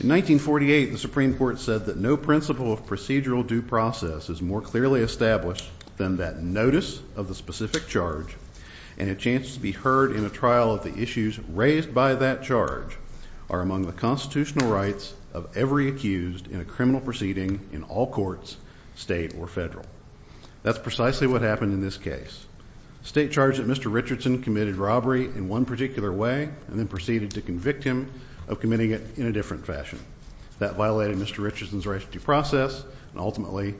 In 1948, the Supreme Court said that no principle of procedural due process is more clearly established than that notice of the specific charge and a chance to be heard in a trial of the issues raised by that charge are among the constitutional rights of every accused in a criminal proceeding in all courts, state or federal. That's precisely what happened in this case. State charge that Mr. Richardson committed robbery in one particular way and then proceeded to convict him of committing it in a different fashion. That violated Mr. Richardson's right to due process and ultimately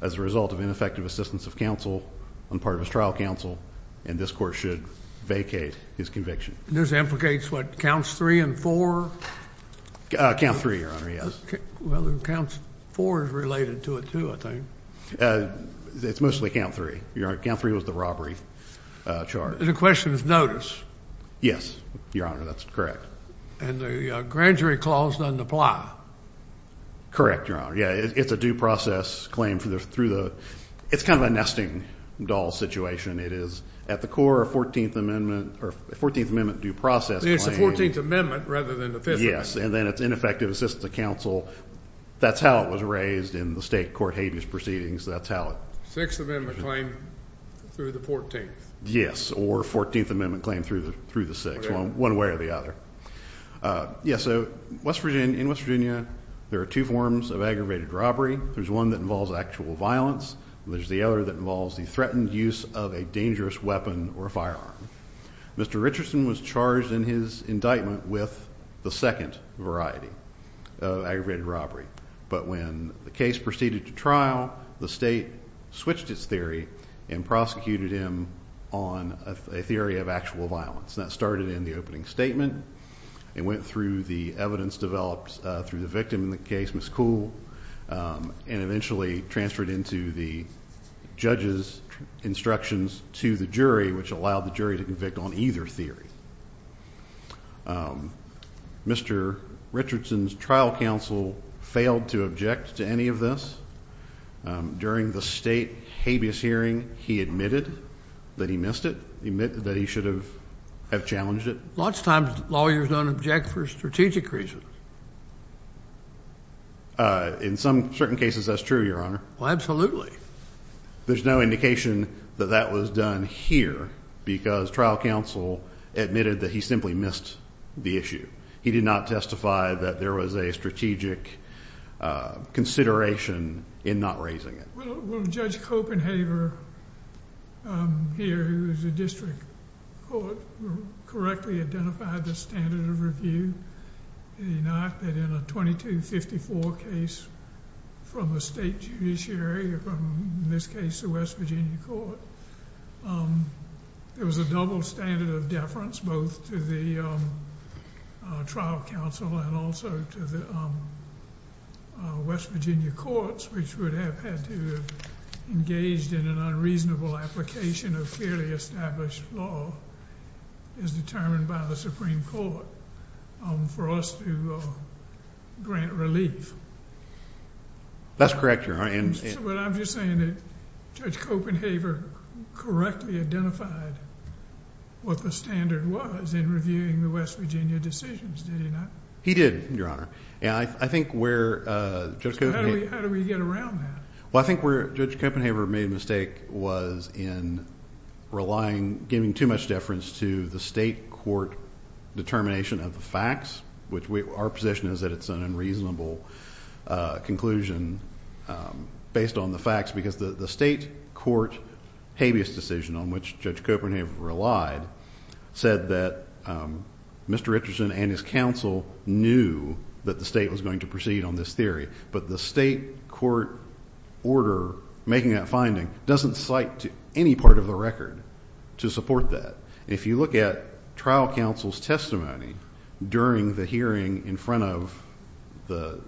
as a result of ineffective assistance of counsel on part of his trial counsel and this court should vacate his conviction. This implicates what counts three and four? Counts three, your honor, yes. Well, counts four is related to it too, I think. It's mostly count three, your honor. Count three was the robbery charge. The question is notice. Yes, your honor, that's correct. And the grand jury clause doesn't apply. Correct, your honor. Yeah, it's a due process claim through the 14th amendment. It's kind of a nesting doll situation. It is at the core of 14th amendment or 14th amendment due process. It's the 14th amendment rather than the 15th. Yes, and then it's ineffective assistance of counsel. That's how it was raised in the state court habeas proceedings. That's how it. Sixth amendment claim through the 14th. Yes, or 14th amendment claim through the six, one way or the other. Yeah, so West Virginia, in West Virginia there are two forms of aggravated robbery. There's one that involves actual violence. There's the other that involves the threatened use of a dangerous weapon or firearm. Mr. Richardson was charged in his indictment with the second variety of aggravated robbery. But when the case proceeded to trial, the state switched its theory and prosecuted him on a theory of actual violence. That started in the opening statement and went through the evidence developed through the victim in the case, Miss Cool. Um, and eventually transferred into the judge's instructions to the jury, which allowed the jury to convict on either theory. Um, Mr Richardson's trial counsel failed to object to any of this. Um, during the state habeas hearing, he admitted that he missed it. He admitted that he should have have challenged it lots of times. Lawyers don't object for strategic reasons. Uh, in some certain cases, that's true, Your Honor. Absolutely. There's no indication that that was done here because trial counsel admitted that he simply missed the issue. He did not testify that there was a strategic, uh, consideration in not raising it. Judge Copenhaver, um, here is a district court correctly identified the standard of review, not that in a 22 54 case from the state judiciary, in this case, the West Virginia Court. Um, there was a double standard of deference, both to the, um, trial counsel and also to the, um, West Virginia courts, which would have had to engaged in unreasonable application of fairly established law is determined by the Supreme Court for us to grant relief. That's correct. You're right. And what I'm just saying that Judge Copenhaver correctly identified what the standard was in reviewing the West Virginia decisions. Did he not? He did, Your Honor. Yeah, I think where, uh, how do we get around that? Well, I think where Judge Copenhaver made a mistake was in relying, giving too much deference to the state court determination of the facts, which our position is that it's an unreasonable conclusion based on the facts because the state court habeas decision on which Judge Copenhaver relied said that, um, Mr. Richardson and his counsel knew that the state was going to proceed on this theory, but the state court order making that finding doesn't cite any part of the record to support that. If you look at trial counsel's testimony during the hearing in front of the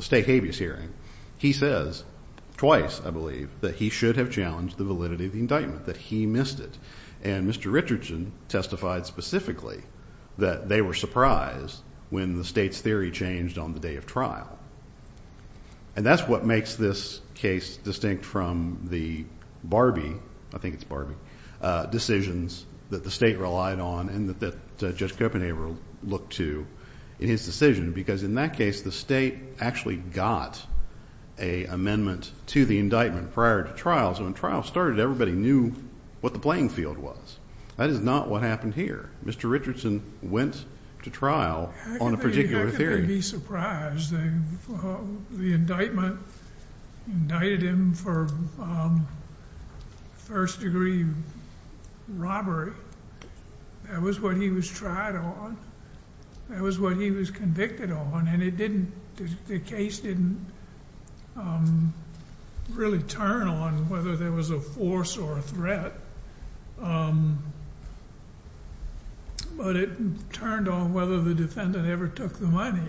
state habeas hearing, he says twice, I believe, that he should have challenged the validity of the indictment, that he missed it. And Mr. Richardson testified specifically that they were surprised when the state's theory changed on the day of trial. And that's what makes this case distinct from the Barbie, I think it's Barbie, decisions that the state relied on and that Judge Copenhaver looked to in his decision because in that case the state actually got a amendment to the indictment prior to trial. So when trial started, everybody knew what the playing field was. That is not what happened here. Mr. Richardson went to trial on a particular theory. I couldn't be surprised. The indictment indicted him for first degree robbery. That was what he was tried on. That was what he was convicted on. And it didn't, the case didn't really turn on whether there was a force or a threat. But it turned on whether the defendant ever took the money.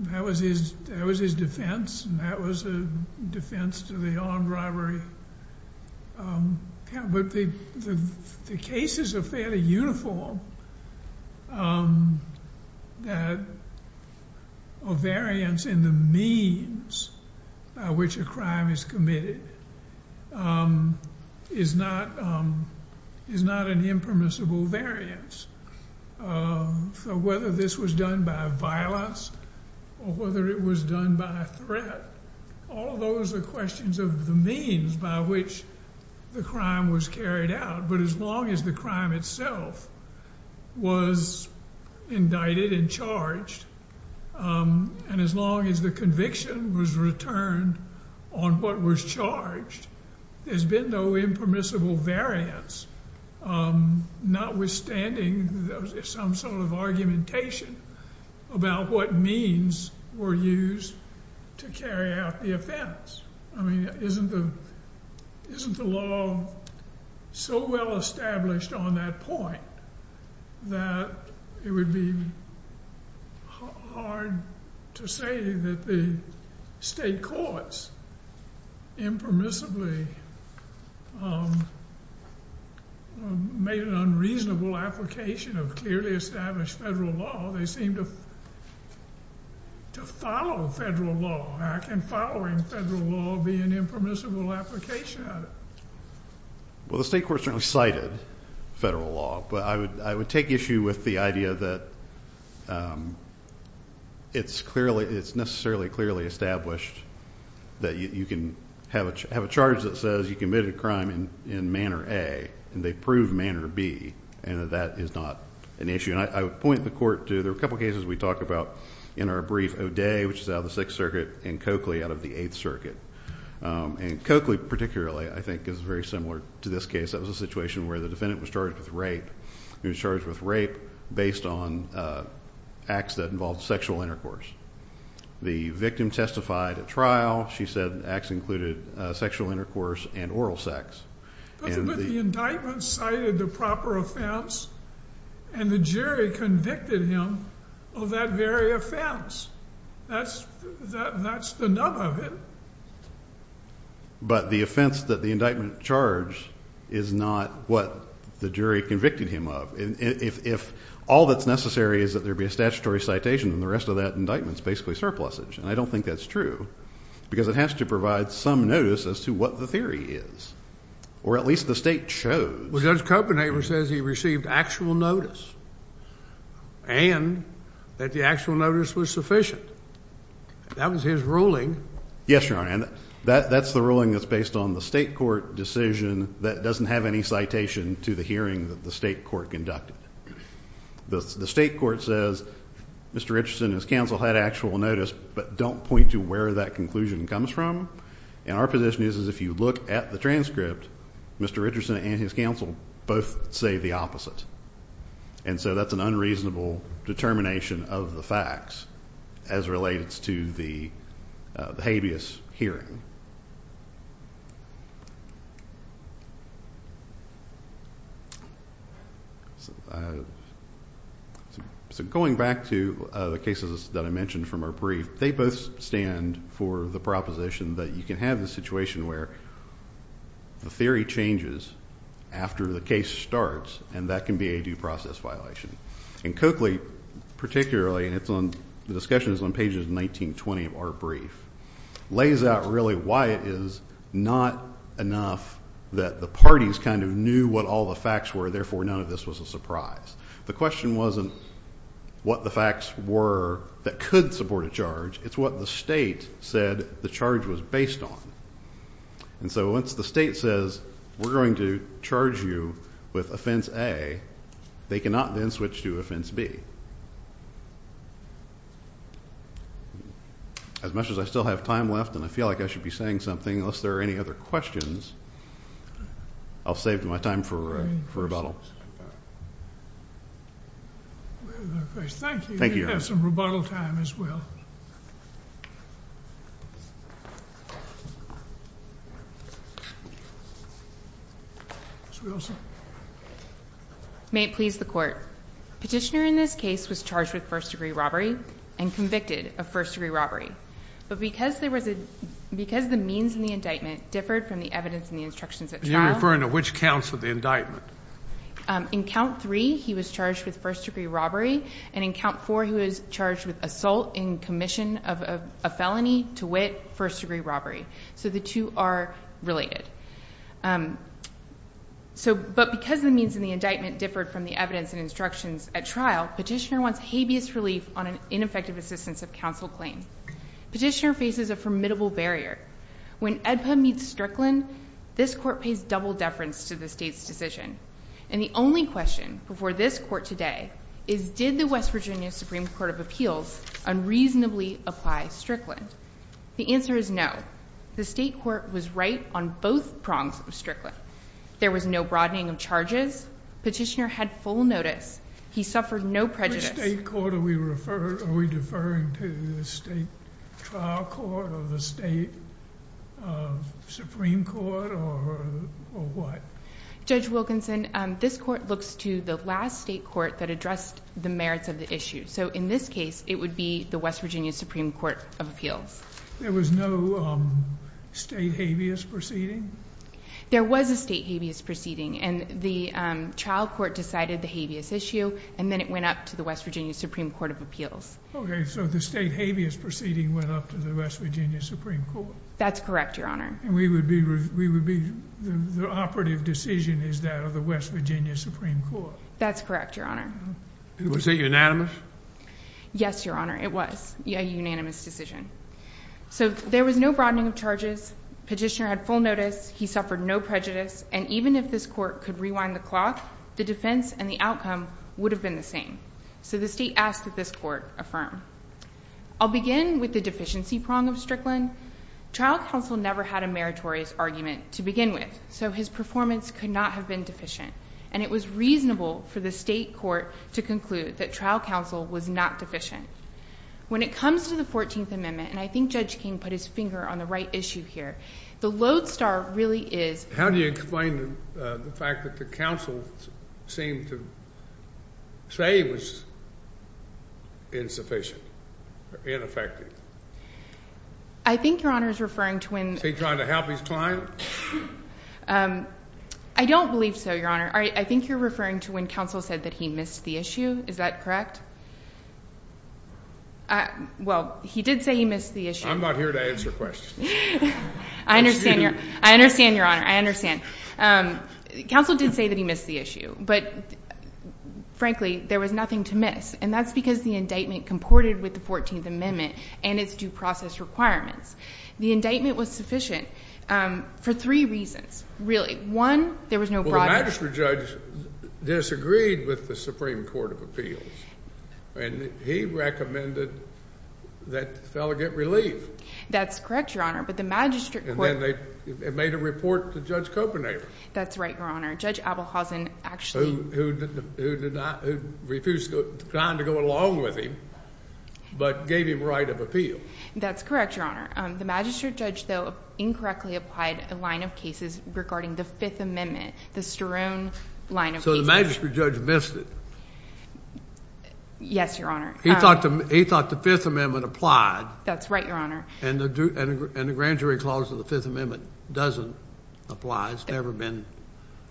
That was his defense and that was a defense to the armed robbery. But the cases are fairly uniform. A variance in the means by which a crime is committed is not an impermissible variance. So whether this was done by violence or whether it was done by threat, all those are questions of the means by which the crime was carried out. But as long as the crime itself was indicted and charged, and as long as the conviction was returned on what was charged, there's been no impermissible variance, notwithstanding some sort of argumentation about what means were used to carry out the offense. I mean, isn't the law so well established on that point that it would be hard to say that the state courts impermissibly made an application of clearly established federal law? They seem to follow federal law. How can following federal law be an impermissible application of it? Well, the state court certainly cited federal law, but I would take issue with the idea that it's clearly, it's necessarily clearly established that you can have a charge that says you committed a crime in Manor A and they prove Manor B, and that is not an issue. And I would point the court to, there are a couple cases we talked about in our brief, O'Day, which is out of the Sixth Circuit, and Coakley out of the Eighth Circuit. And Coakley particularly I think is very similar to this case. That was a situation where the defendant was charged with rape. He was charged with rape based on acts that involved sexual intercourse. The victim testified at trial. She said acts included sexual intercourse and oral sex. But the indictment cited the proper offense and the jury convicted him of that very offense. That's the nub of it. But the offense that the indictment charged is not what the jury convicted him of. If all that's necessary is that there be a statutory citation and the rest of that indictment's basically surplusage. And I don't think that's true because it has to provide some notice as to what the jury is. Or at least the state chose. Well Judge Copenhaver says he received actual notice and that the actual notice was sufficient. That was his ruling. Yes, Your Honor. And that's the ruling that's based on the state court decision that doesn't have any citation to the hearing that the state court conducted. The state court says, Mr. Richardson and his counsel had actual notice, but don't point to where that conclusion comes from. And our position is, is if you look at the transcript, Mr. Richardson and his counsel both say the opposite. And so that's an unreasonable determination of the facts as related to the habeas hearing. So going back to the cases that I mentioned from our brief, they both stand for the proposition that you can have a situation where the theory changes after the case starts and that can be a due process violation. And Coakley, particularly, and it's on, the discussion is on pages 19-20 of our brief, lays out really why it is not enough that the parties kind of knew what all the facts were, therefore none of this was a surprise. The question wasn't what the facts were that could support a charge, it's what the state said the charge was based on. And so once the state says we're going to charge you with offense A, they cannot then switch to offense B. As much as I still have time left and I feel like I should be saying something, unless there are any other questions, I'll save my time for rebuttal. Thank you. We have some rebuttal time as well. May it please the court. Petitioner in this case was charged with first degree robbery and convicted of first degree robbery. But because the means in the indictment differed from the evidence in the instructions at trial. And you're referring to which counts of the indictment? In count three he was charged with first degree robbery and in count four he was charged with assault in commission of a felony to wit first degree robbery. So the two are related. But because the means in the indictment differed from the evidence and instructions at trial, petitioner wants relief on an ineffective assistance of counsel claim. Petitioner faces a formidable barrier. When EDPA meets Strickland, this court pays double deference to the state's decision. And the only question before this court today is did the West Virginia Supreme Court of Appeals unreasonably apply Strickland? The answer is no. The state court was right on both prongs of Strickland. There was no broadening of charges. Petitioner had full notice. He suffered no prejudice. Which state court are we referring to? The state trial court or the state supreme court or what? Judge Wilkinson, this court looks to the last state court that addressed the merits of the issue. So in this case it would be the West Virginia Supreme Court of Appeals. There was no state habeas proceeding. There was a state habeas proceeding and the child court decided the habeas issue and then it went up to the West Virginia Supreme Court of Appeals. Okay, so the state habeas proceeding went up to the West Virginia Supreme Court. That's correct, Your Honor. It was a unanimous decision. So there was no broadening of charges. Petitioner had full notice. He suffered no prejudice. And even if this court could rewind the clock, the defense and the outcome would have been the same. So the state asked that this court affirm. I'll begin with the deficiency prong of Strickland. Trial counsel never had a meritorious argument to begin with, so his performance could not have been deficient. And it was reasonable for the state court to conclude that trial counsel was not deficient. When it comes to the 14th Amendment, and I think Judge King put his finger on the right issue here, the lodestar really is... How do you explain the fact that the counsel seemed to say he was insufficient, ineffective? I think Your Honor is referring to when... Is he trying to help his client? I don't believe so, Your Honor. I think you're referring to when counsel said that he missed the issue. Is that correct? Well, he did say he missed the issue. I'm not here to answer questions. I understand, Your Honor. I understand. Counsel did say that he missed the issue, but frankly, there was nothing to miss. And that's because the indictment comported with the 14th Amendment and its due process requirements. The indictment was sufficient for three reasons, really. One, there was no... Well, the magistrate judge disagreed with the Supreme Court of Appeals, and he recommended that the fellow get relief. That's correct, Your Honor, but the magistrate... And then they made a report to Judge Kopernik. That's right, Your Honor. Judge Abelhausen actually... Who refused to kind of go along with him, but gave him right of appeal. That's correct, Your Honor. The magistrate judge, though, incorrectly applied a line of cases regarding the Fifth Amendment, the So the magistrate judge missed it. Yes, Your Honor. He thought the Fifth Amendment applied. That's right, Your Honor. And the grand jury clause of the Fifth Amendment doesn't apply. It's never been...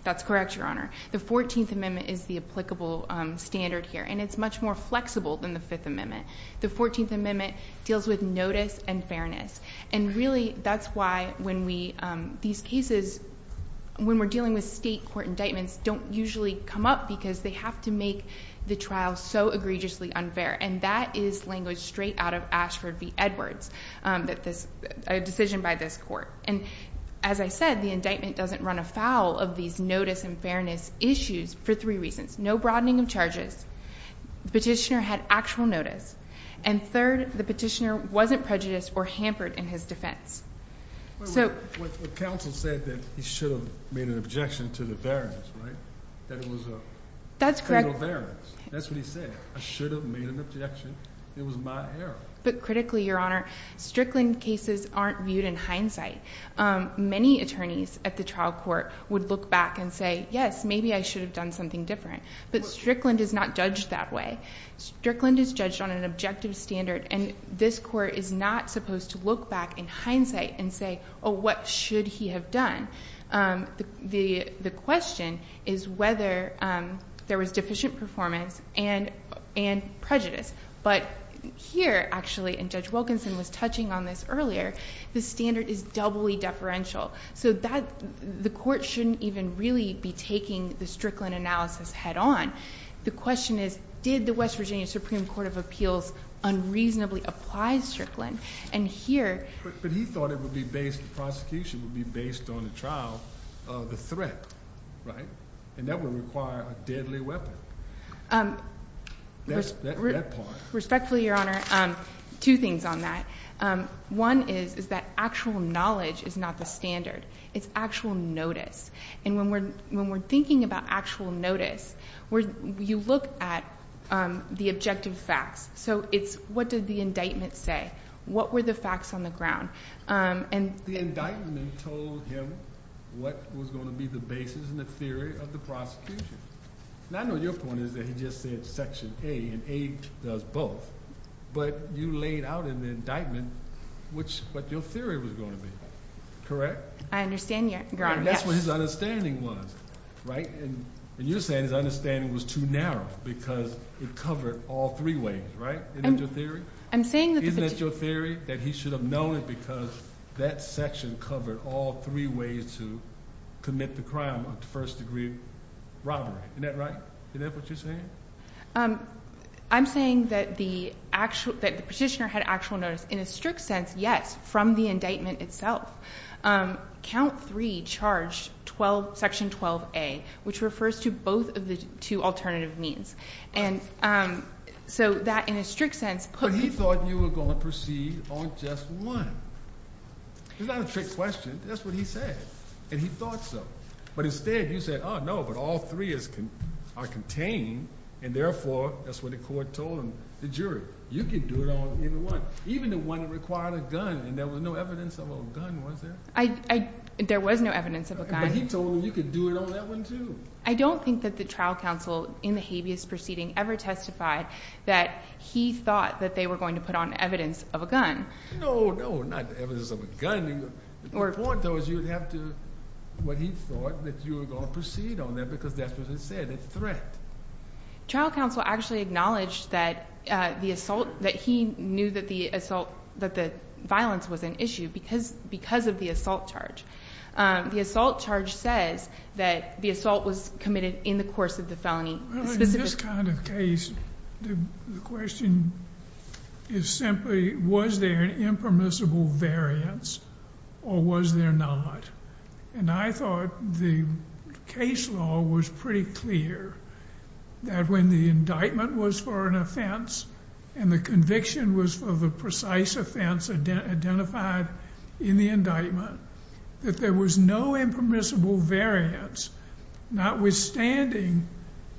That's correct, Your Honor. The 14th Amendment is the applicable standard here, and it's much more flexible than the usually come up because they have to make the trial so egregiously unfair, and that is language straight out of Ashford v. Edwards, a decision by this court. And as I said, the indictment doesn't run afoul of these notice and fairness issues for three reasons, no broadening of charges, the petitioner had actual notice, and third, the petitioner wasn't prejudiced or hampered in his defense. So... But counsel said that he should have made an objection to the variance, right? That it was a federal variance. That's correct. That's what he said. I should have made an objection. It was my error. But critically, Your Honor, Strickland cases aren't viewed in hindsight. Many attorneys at the trial court would look back and say, yes, maybe I should have done something different. But Strickland is not judged that way. Strickland is judged on an objective standard, and this court is not supposed to look back in hindsight and say, oh, what should he have done? The question is whether there was deficient performance and prejudice. But here, actually, and Judge Wilkinson was touching on this earlier, the standard is doubly deferential. So the court shouldn't even really be taking the Strickland analysis head on. The question is, did the West Virginia Supreme Court of Appeals unreasonably apply Strickland? And here... But he thought the prosecution would be based on the trial of the threat, right? And that would require a deadly weapon. That part. Respectfully, Your Honor, two things on that. One is that actual knowledge is not the standard. It's actual notice. And when we're thinking about actual notice, you look at the objective facts. So it's what did the indictment say? What were the facts on the ground? The indictment told him what was going to be the basis and the theory of the prosecution. And I know your point is that he just said section A, and A does both. But you laid out in the indictment what your theory was going to be. Correct? I understand, Your Honor, yes. And that's what his understanding was. Right? And you're saying his understanding was too narrow because it covered all three ways, right? Isn't that your theory? Isn't that your theory? That he should have known it because that section covered all three ways to commit the crime of first degree robbery. Isn't that right? Isn't that what you're saying? I'm saying that the petitioner had actual notice in a strict sense, yes, from the indictment itself. Count three charged section 12A, which refers to both of the two alternative means. But he thought you were going to proceed on just one. It's not a trick question. That's what he said. And he thought so. But instead, you said, oh, no, but all three are contained. And therefore, that's what the court told him, the jury. You can do it on either one. Even the one that required a gun. And there was no evidence of a gun, was there? There was no evidence of a gun. But he told him you could do it on that one, too. I don't think that the trial counsel in the habeas proceeding ever testified that he thought that they were going to put on evidence of a gun. No, no, not evidence of a gun. The point, though, is you would have to, what he thought, that you were going to proceed on that because that's what it said. It's a threat. Trial counsel actually acknowledged that the assault, that he knew that the assault, that the violence was an issue because of the assault charge. The assault charge says that the assault was committed in the course of the felony. Well, in this kind of case, the question is simply, was there an impermissible variance or was there not? And I thought the case law was pretty clear that when the indictment was for an offense and the conviction was for the precise offense identified in the indictment, that there was no impermissible variance, notwithstanding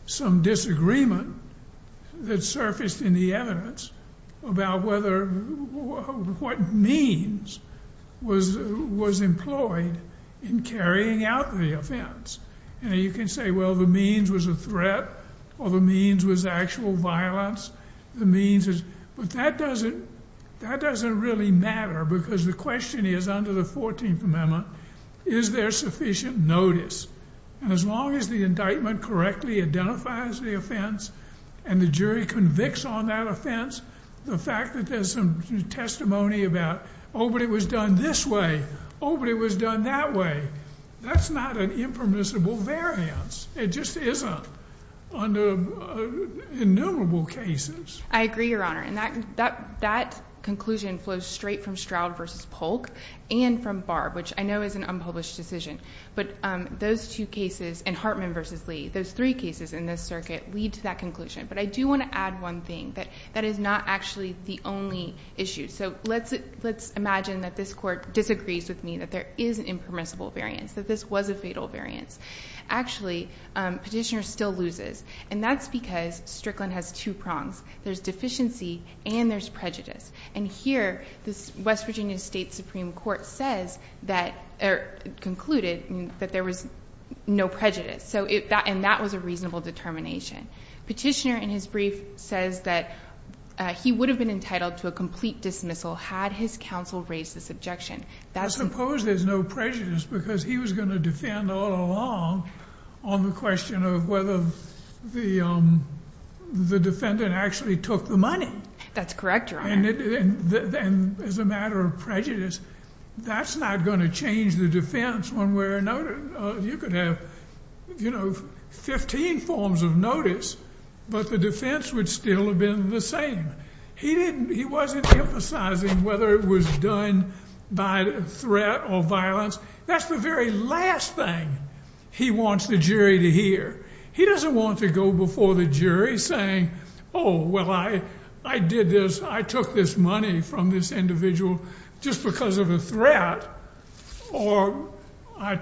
some disagreement that surfaced in the evidence about what means was employed in carrying out the offense. And you can say, well, the means was a threat or the means was actual violence. But that doesn't really matter because the question is, under the 14th Amendment, is there sufficient notice? And as long as the indictment correctly identifies the offense and the jury convicts on that offense, the fact that there's some testimony about, oh, but it was done this way, oh, but it was done that way, that's not an impermissible variance. It just isn't under innumerable cases. I agree, Your Honor. And that conclusion flows straight from Stroud v. Polk and from Barb, which I know is an unpublished decision. But those two cases and Hartman v. Lee, those three cases in this circuit, lead to that conclusion. But I do want to add one thing. That is not actually the only issue. So let's imagine that this Court disagrees with me that there is an impermissible variance, that this was a fatal variance. Actually, Petitioner still loses. And that's because Strickland has two prongs. There's deficiency and there's prejudice. And here, the West Virginia State Supreme Court concluded that there was no prejudice. And that was a reasonable determination. Petitioner, in his brief, says that he would have been entitled to a complete dismissal had his counsel raised this objection. I suppose there's no prejudice because he was going to defend all along on the question of whether the defendant actually took the money. That's correct, Your Honor. And as a matter of prejudice, that's not going to change the defense one way or another. You could have, you know, 15 forms of notice, but the defense would still have been the same. He wasn't emphasizing whether it was done by threat or violence. That's the very last thing he wants the jury to hear. He doesn't want to go before the jury saying, oh, well, I did this. I took this money from this individual just because of a threat. Or I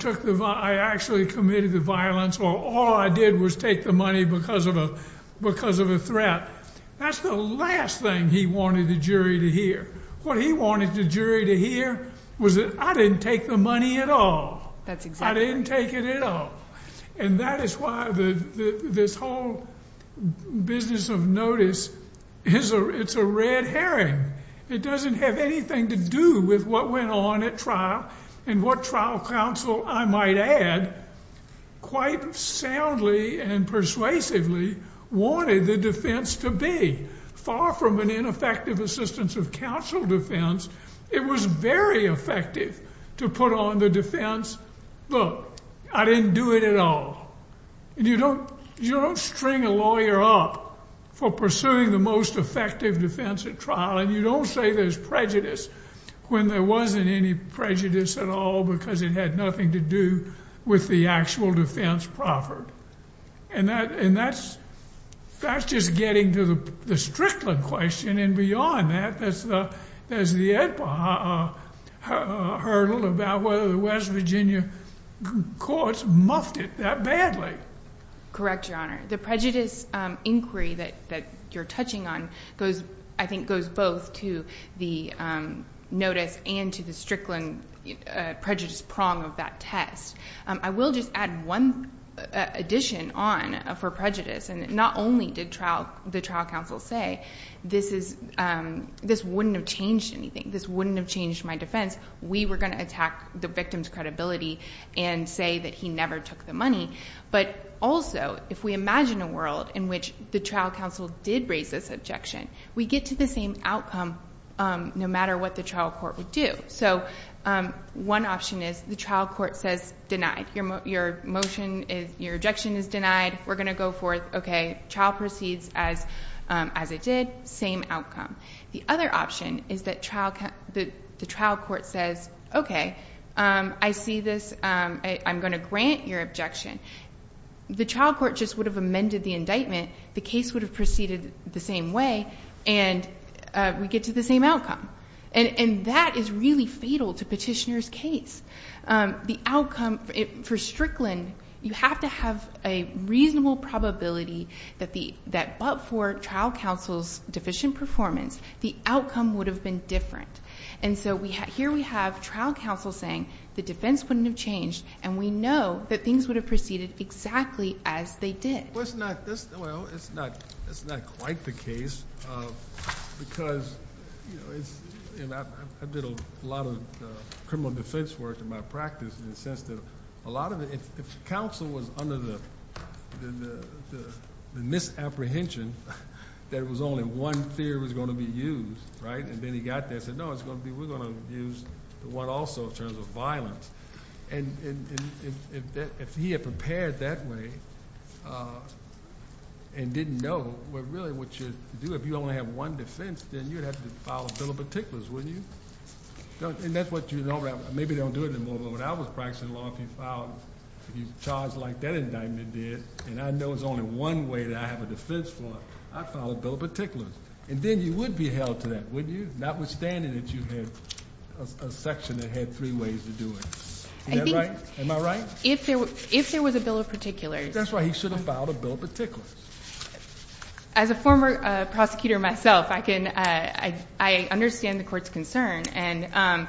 actually committed the violence, or all I did was take the money because of a threat. That's the last thing he wanted the jury to hear. What he wanted the jury to hear was that I didn't take the money at all. That's exactly right. And what trial counsel, I might add, quite soundly and persuasively, wanted the defense to be. Far from an ineffective assistance of counsel defense, it was very effective to put on the defense, look, I didn't do it at all. You don't string a lawyer up for pursuing the most effective defense at trial, and you don't say there's prejudice when there wasn't any prejudice at all because it had nothing to do with the actual defense proffered. And that's just getting to the Strickland question, and beyond that, there's the Edpa hurdle about whether the West Virginia courts muffed it that badly. Correct, Your Honor. The prejudice inquiry that you're touching on, I think, goes both to the notice and to the Strickland prejudice prong of that test. I will just add one addition on for prejudice, and not only did the trial counsel say this wouldn't have changed anything, this wouldn't have changed my defense. We were going to attack the victim's credibility and say that he never took the money. But also, if we imagine a world in which the trial counsel did raise this objection, we get to the same outcome no matter what the trial court would do. So one option is the trial court says, denied. Your motion, your objection is denied. We're going to go forth. Okay. Trial proceeds as it did. Same outcome. The other option is that the trial court says, okay, I see this. I'm going to grant your objection. The trial court just would have amended the indictment. The case would have proceeded the same way, and we get to the same outcome. And that is really fatal to petitioner's case. The outcome for Strickland, you have to have a reasonable probability that but for trial counsel's deficient performance, the outcome would have been different. And so here we have trial counsel saying the defense wouldn't have changed, and we know that things would have proceeded exactly as they did. Well, it's not quite the case because I did a lot of criminal defense work in my practice in the sense that a lot of it, if counsel was under the misapprehension that it was only one theory was going to be used, right? And then he got there and said, no, we're going to use the one also in terms of violence. And if he had prepared that way and didn't know what really what you do, if you only have one defense, then you'd have to file a bill of particulars, wouldn't you? And that's what you don't have. Maybe they don't do it anymore, but when I was practicing law, if you filed, if you charged like that indictment did, and I know there's only one way that I have a defense for, I'd file a bill of particulars. And then you would be held to that, wouldn't you? Notwithstanding that you had a section that had three ways to do it. Is that right? Am I right? If there was a bill of particulars. That's right. He should have filed a bill of particulars. As a former prosecutor myself, I understand the court's concern, and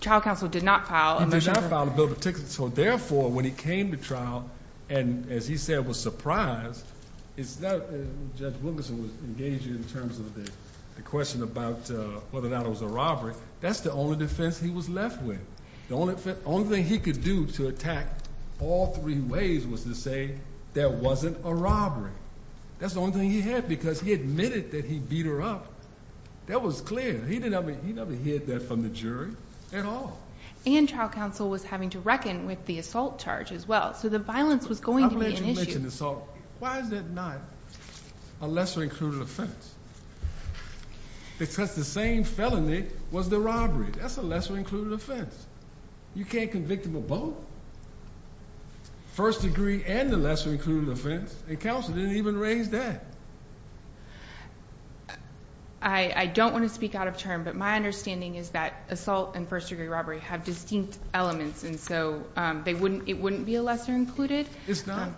trial counsel did not file a bill of particulars. He did not file a bill of particulars. And so, therefore, when he came to trial and, as he said, was surprised, it's not that Judge Wilkerson was engaged in terms of the question about whether or not it was a robbery. That's the only defense he was left with. The only thing he could do to attack all three ways was to say there wasn't a robbery. That's the only thing he had because he admitted that he beat her up. That was clear. He never hid that from the jury at all. And trial counsel was having to reckon with the assault charge as well. So the violence was going to be an issue. I'm going to let you mention assault. Why is that not a lesser-included offense? Because the same felony was the robbery. That's a lesser-included offense. You can't convict them of both. First degree and the lesser-included offense, and counsel didn't even raise that. I don't want to speak out of turn, but my understanding is that assault and first-degree robbery have distinct elements, and so it wouldn't be a lesser-included. It's not?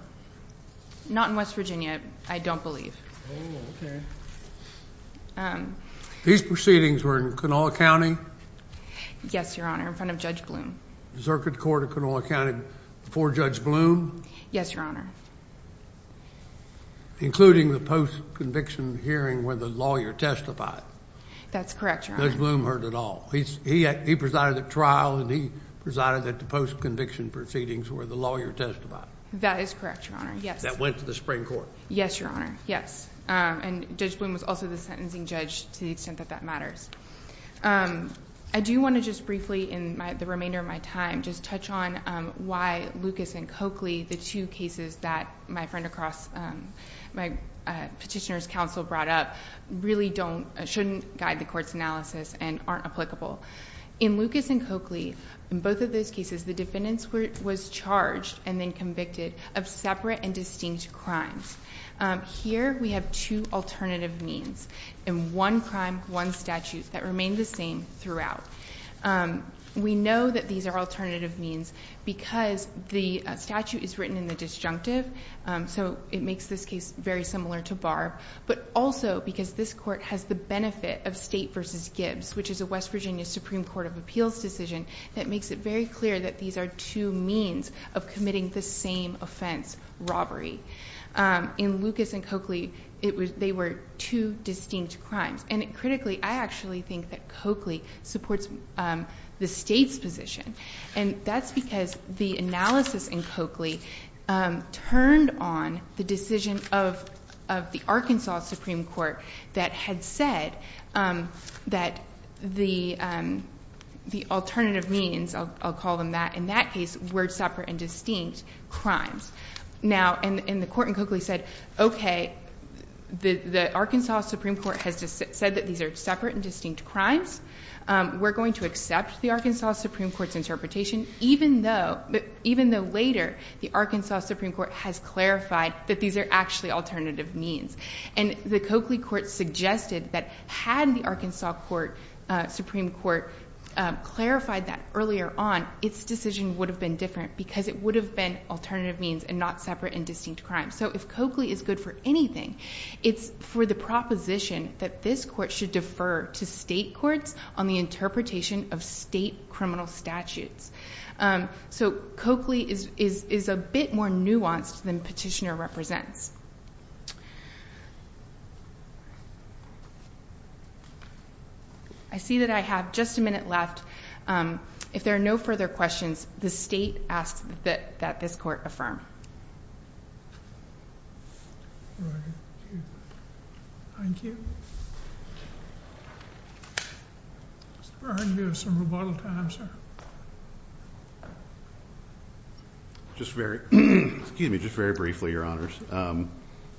Not in West Virginia, I don't believe. Oh, okay. These proceedings were in Canola County? Yes, Your Honor, in front of Judge Bloom. The Circuit Court of Canola County before Judge Bloom? Yes, Your Honor. Including the post-conviction hearing where the lawyer testified? That's correct, Your Honor. Judge Bloom heard it all. He presided at trial, and he presided at the post-conviction proceedings where the lawyer testified. That is correct, Your Honor, yes. That went to the Supreme Court. Yes, Your Honor, yes. And Judge Bloom was also the sentencing judge to the extent that that matters. I do want to just briefly, in the remainder of my time, just touch on why Lucas and Coakley, the two cases that my friend across, my petitioner's counsel brought up, really shouldn't guide the court's analysis and aren't applicable. In Lucas and Coakley, in both of those cases, the defendant was charged and then convicted of separate and distinct crimes. Here, we have two alternative means in one crime, one statute that remain the same throughout. We know that these are alternative means because the statute is written in the disjunctive, so it makes this case very similar to Barb, but also because this court has the benefit of State v. Gibbs, which is a West Virginia Supreme Court of Appeals decision that makes it very clear that these are two means of committing the same offense, robbery. In Lucas and Coakley, they were two distinct crimes. And critically, I actually think that Coakley supports the State's position. And that's because the analysis in Coakley turned on the decision of the Arkansas Supreme Court that had said that the alternative means, I'll call them that in that case, were separate and distinct crimes. Now, and the court in Coakley said, okay, the Arkansas Supreme Court has said that these are separate and distinct crimes. We're going to accept the Arkansas Supreme Court's interpretation, even though later the Arkansas Supreme Court has clarified that these are actually alternative means. And the Coakley court suggested that had the Arkansas Supreme Court clarified that earlier on, its decision would have been different because it would have been alternative means and not separate and distinct crimes. So if Coakley is good for anything, it's for the proposition that this court should defer to State courts on the interpretation of State criminal statutes. So Coakley is a bit more nuanced than Petitioner represents. I see that I have just a minute left. If there are no further questions, the State asks that this court affirm. Thank you. We have some rebuttal time, sir. Just very, excuse me, just very briefly, Your Honors.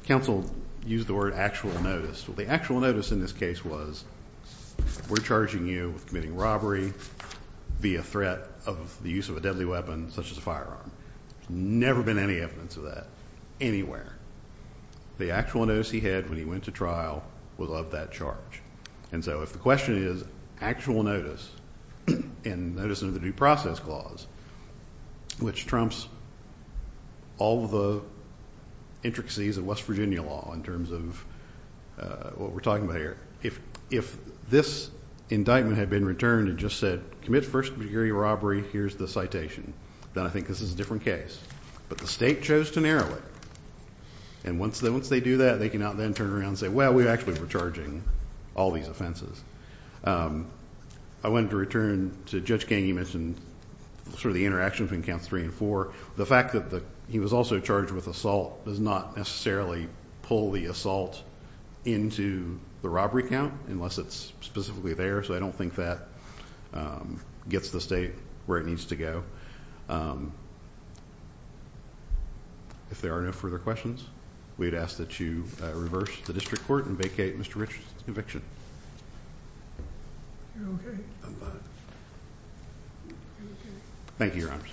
Counsel used the word actual notice. Well, the actual notice in this case was we're charging you with committing robbery via threat of the use of a deadly weapon such as a firearm. There's never been any evidence of that anywhere. The actual notice he had when he went to trial was of that charge. And so if the question is actual notice and notice under the due process clause, which trumps all of the intricacies of West Virginia law in terms of what we're talking about here. If this indictment had been returned and just said commit first degree robbery, here's the citation, then I think this is a different case. But the State chose to narrow it. And once they do that, they can now then turn around and say, well, we actually were charging all these offenses. I wanted to return to Judge King. He mentioned sort of the interaction between counts three and four. The fact that he was also charged with assault does not necessarily pull the assault into the robbery count unless it's specifically there. So I don't think that gets the State where it needs to go. If there are no further questions, we'd ask that you reverse the district court and vacate Mr. Richardson's conviction. Thank you, Your Honor.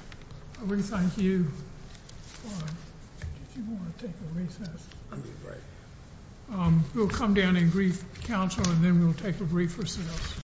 We thank you. We'll come down and brief counsel and then we'll take a brief recess.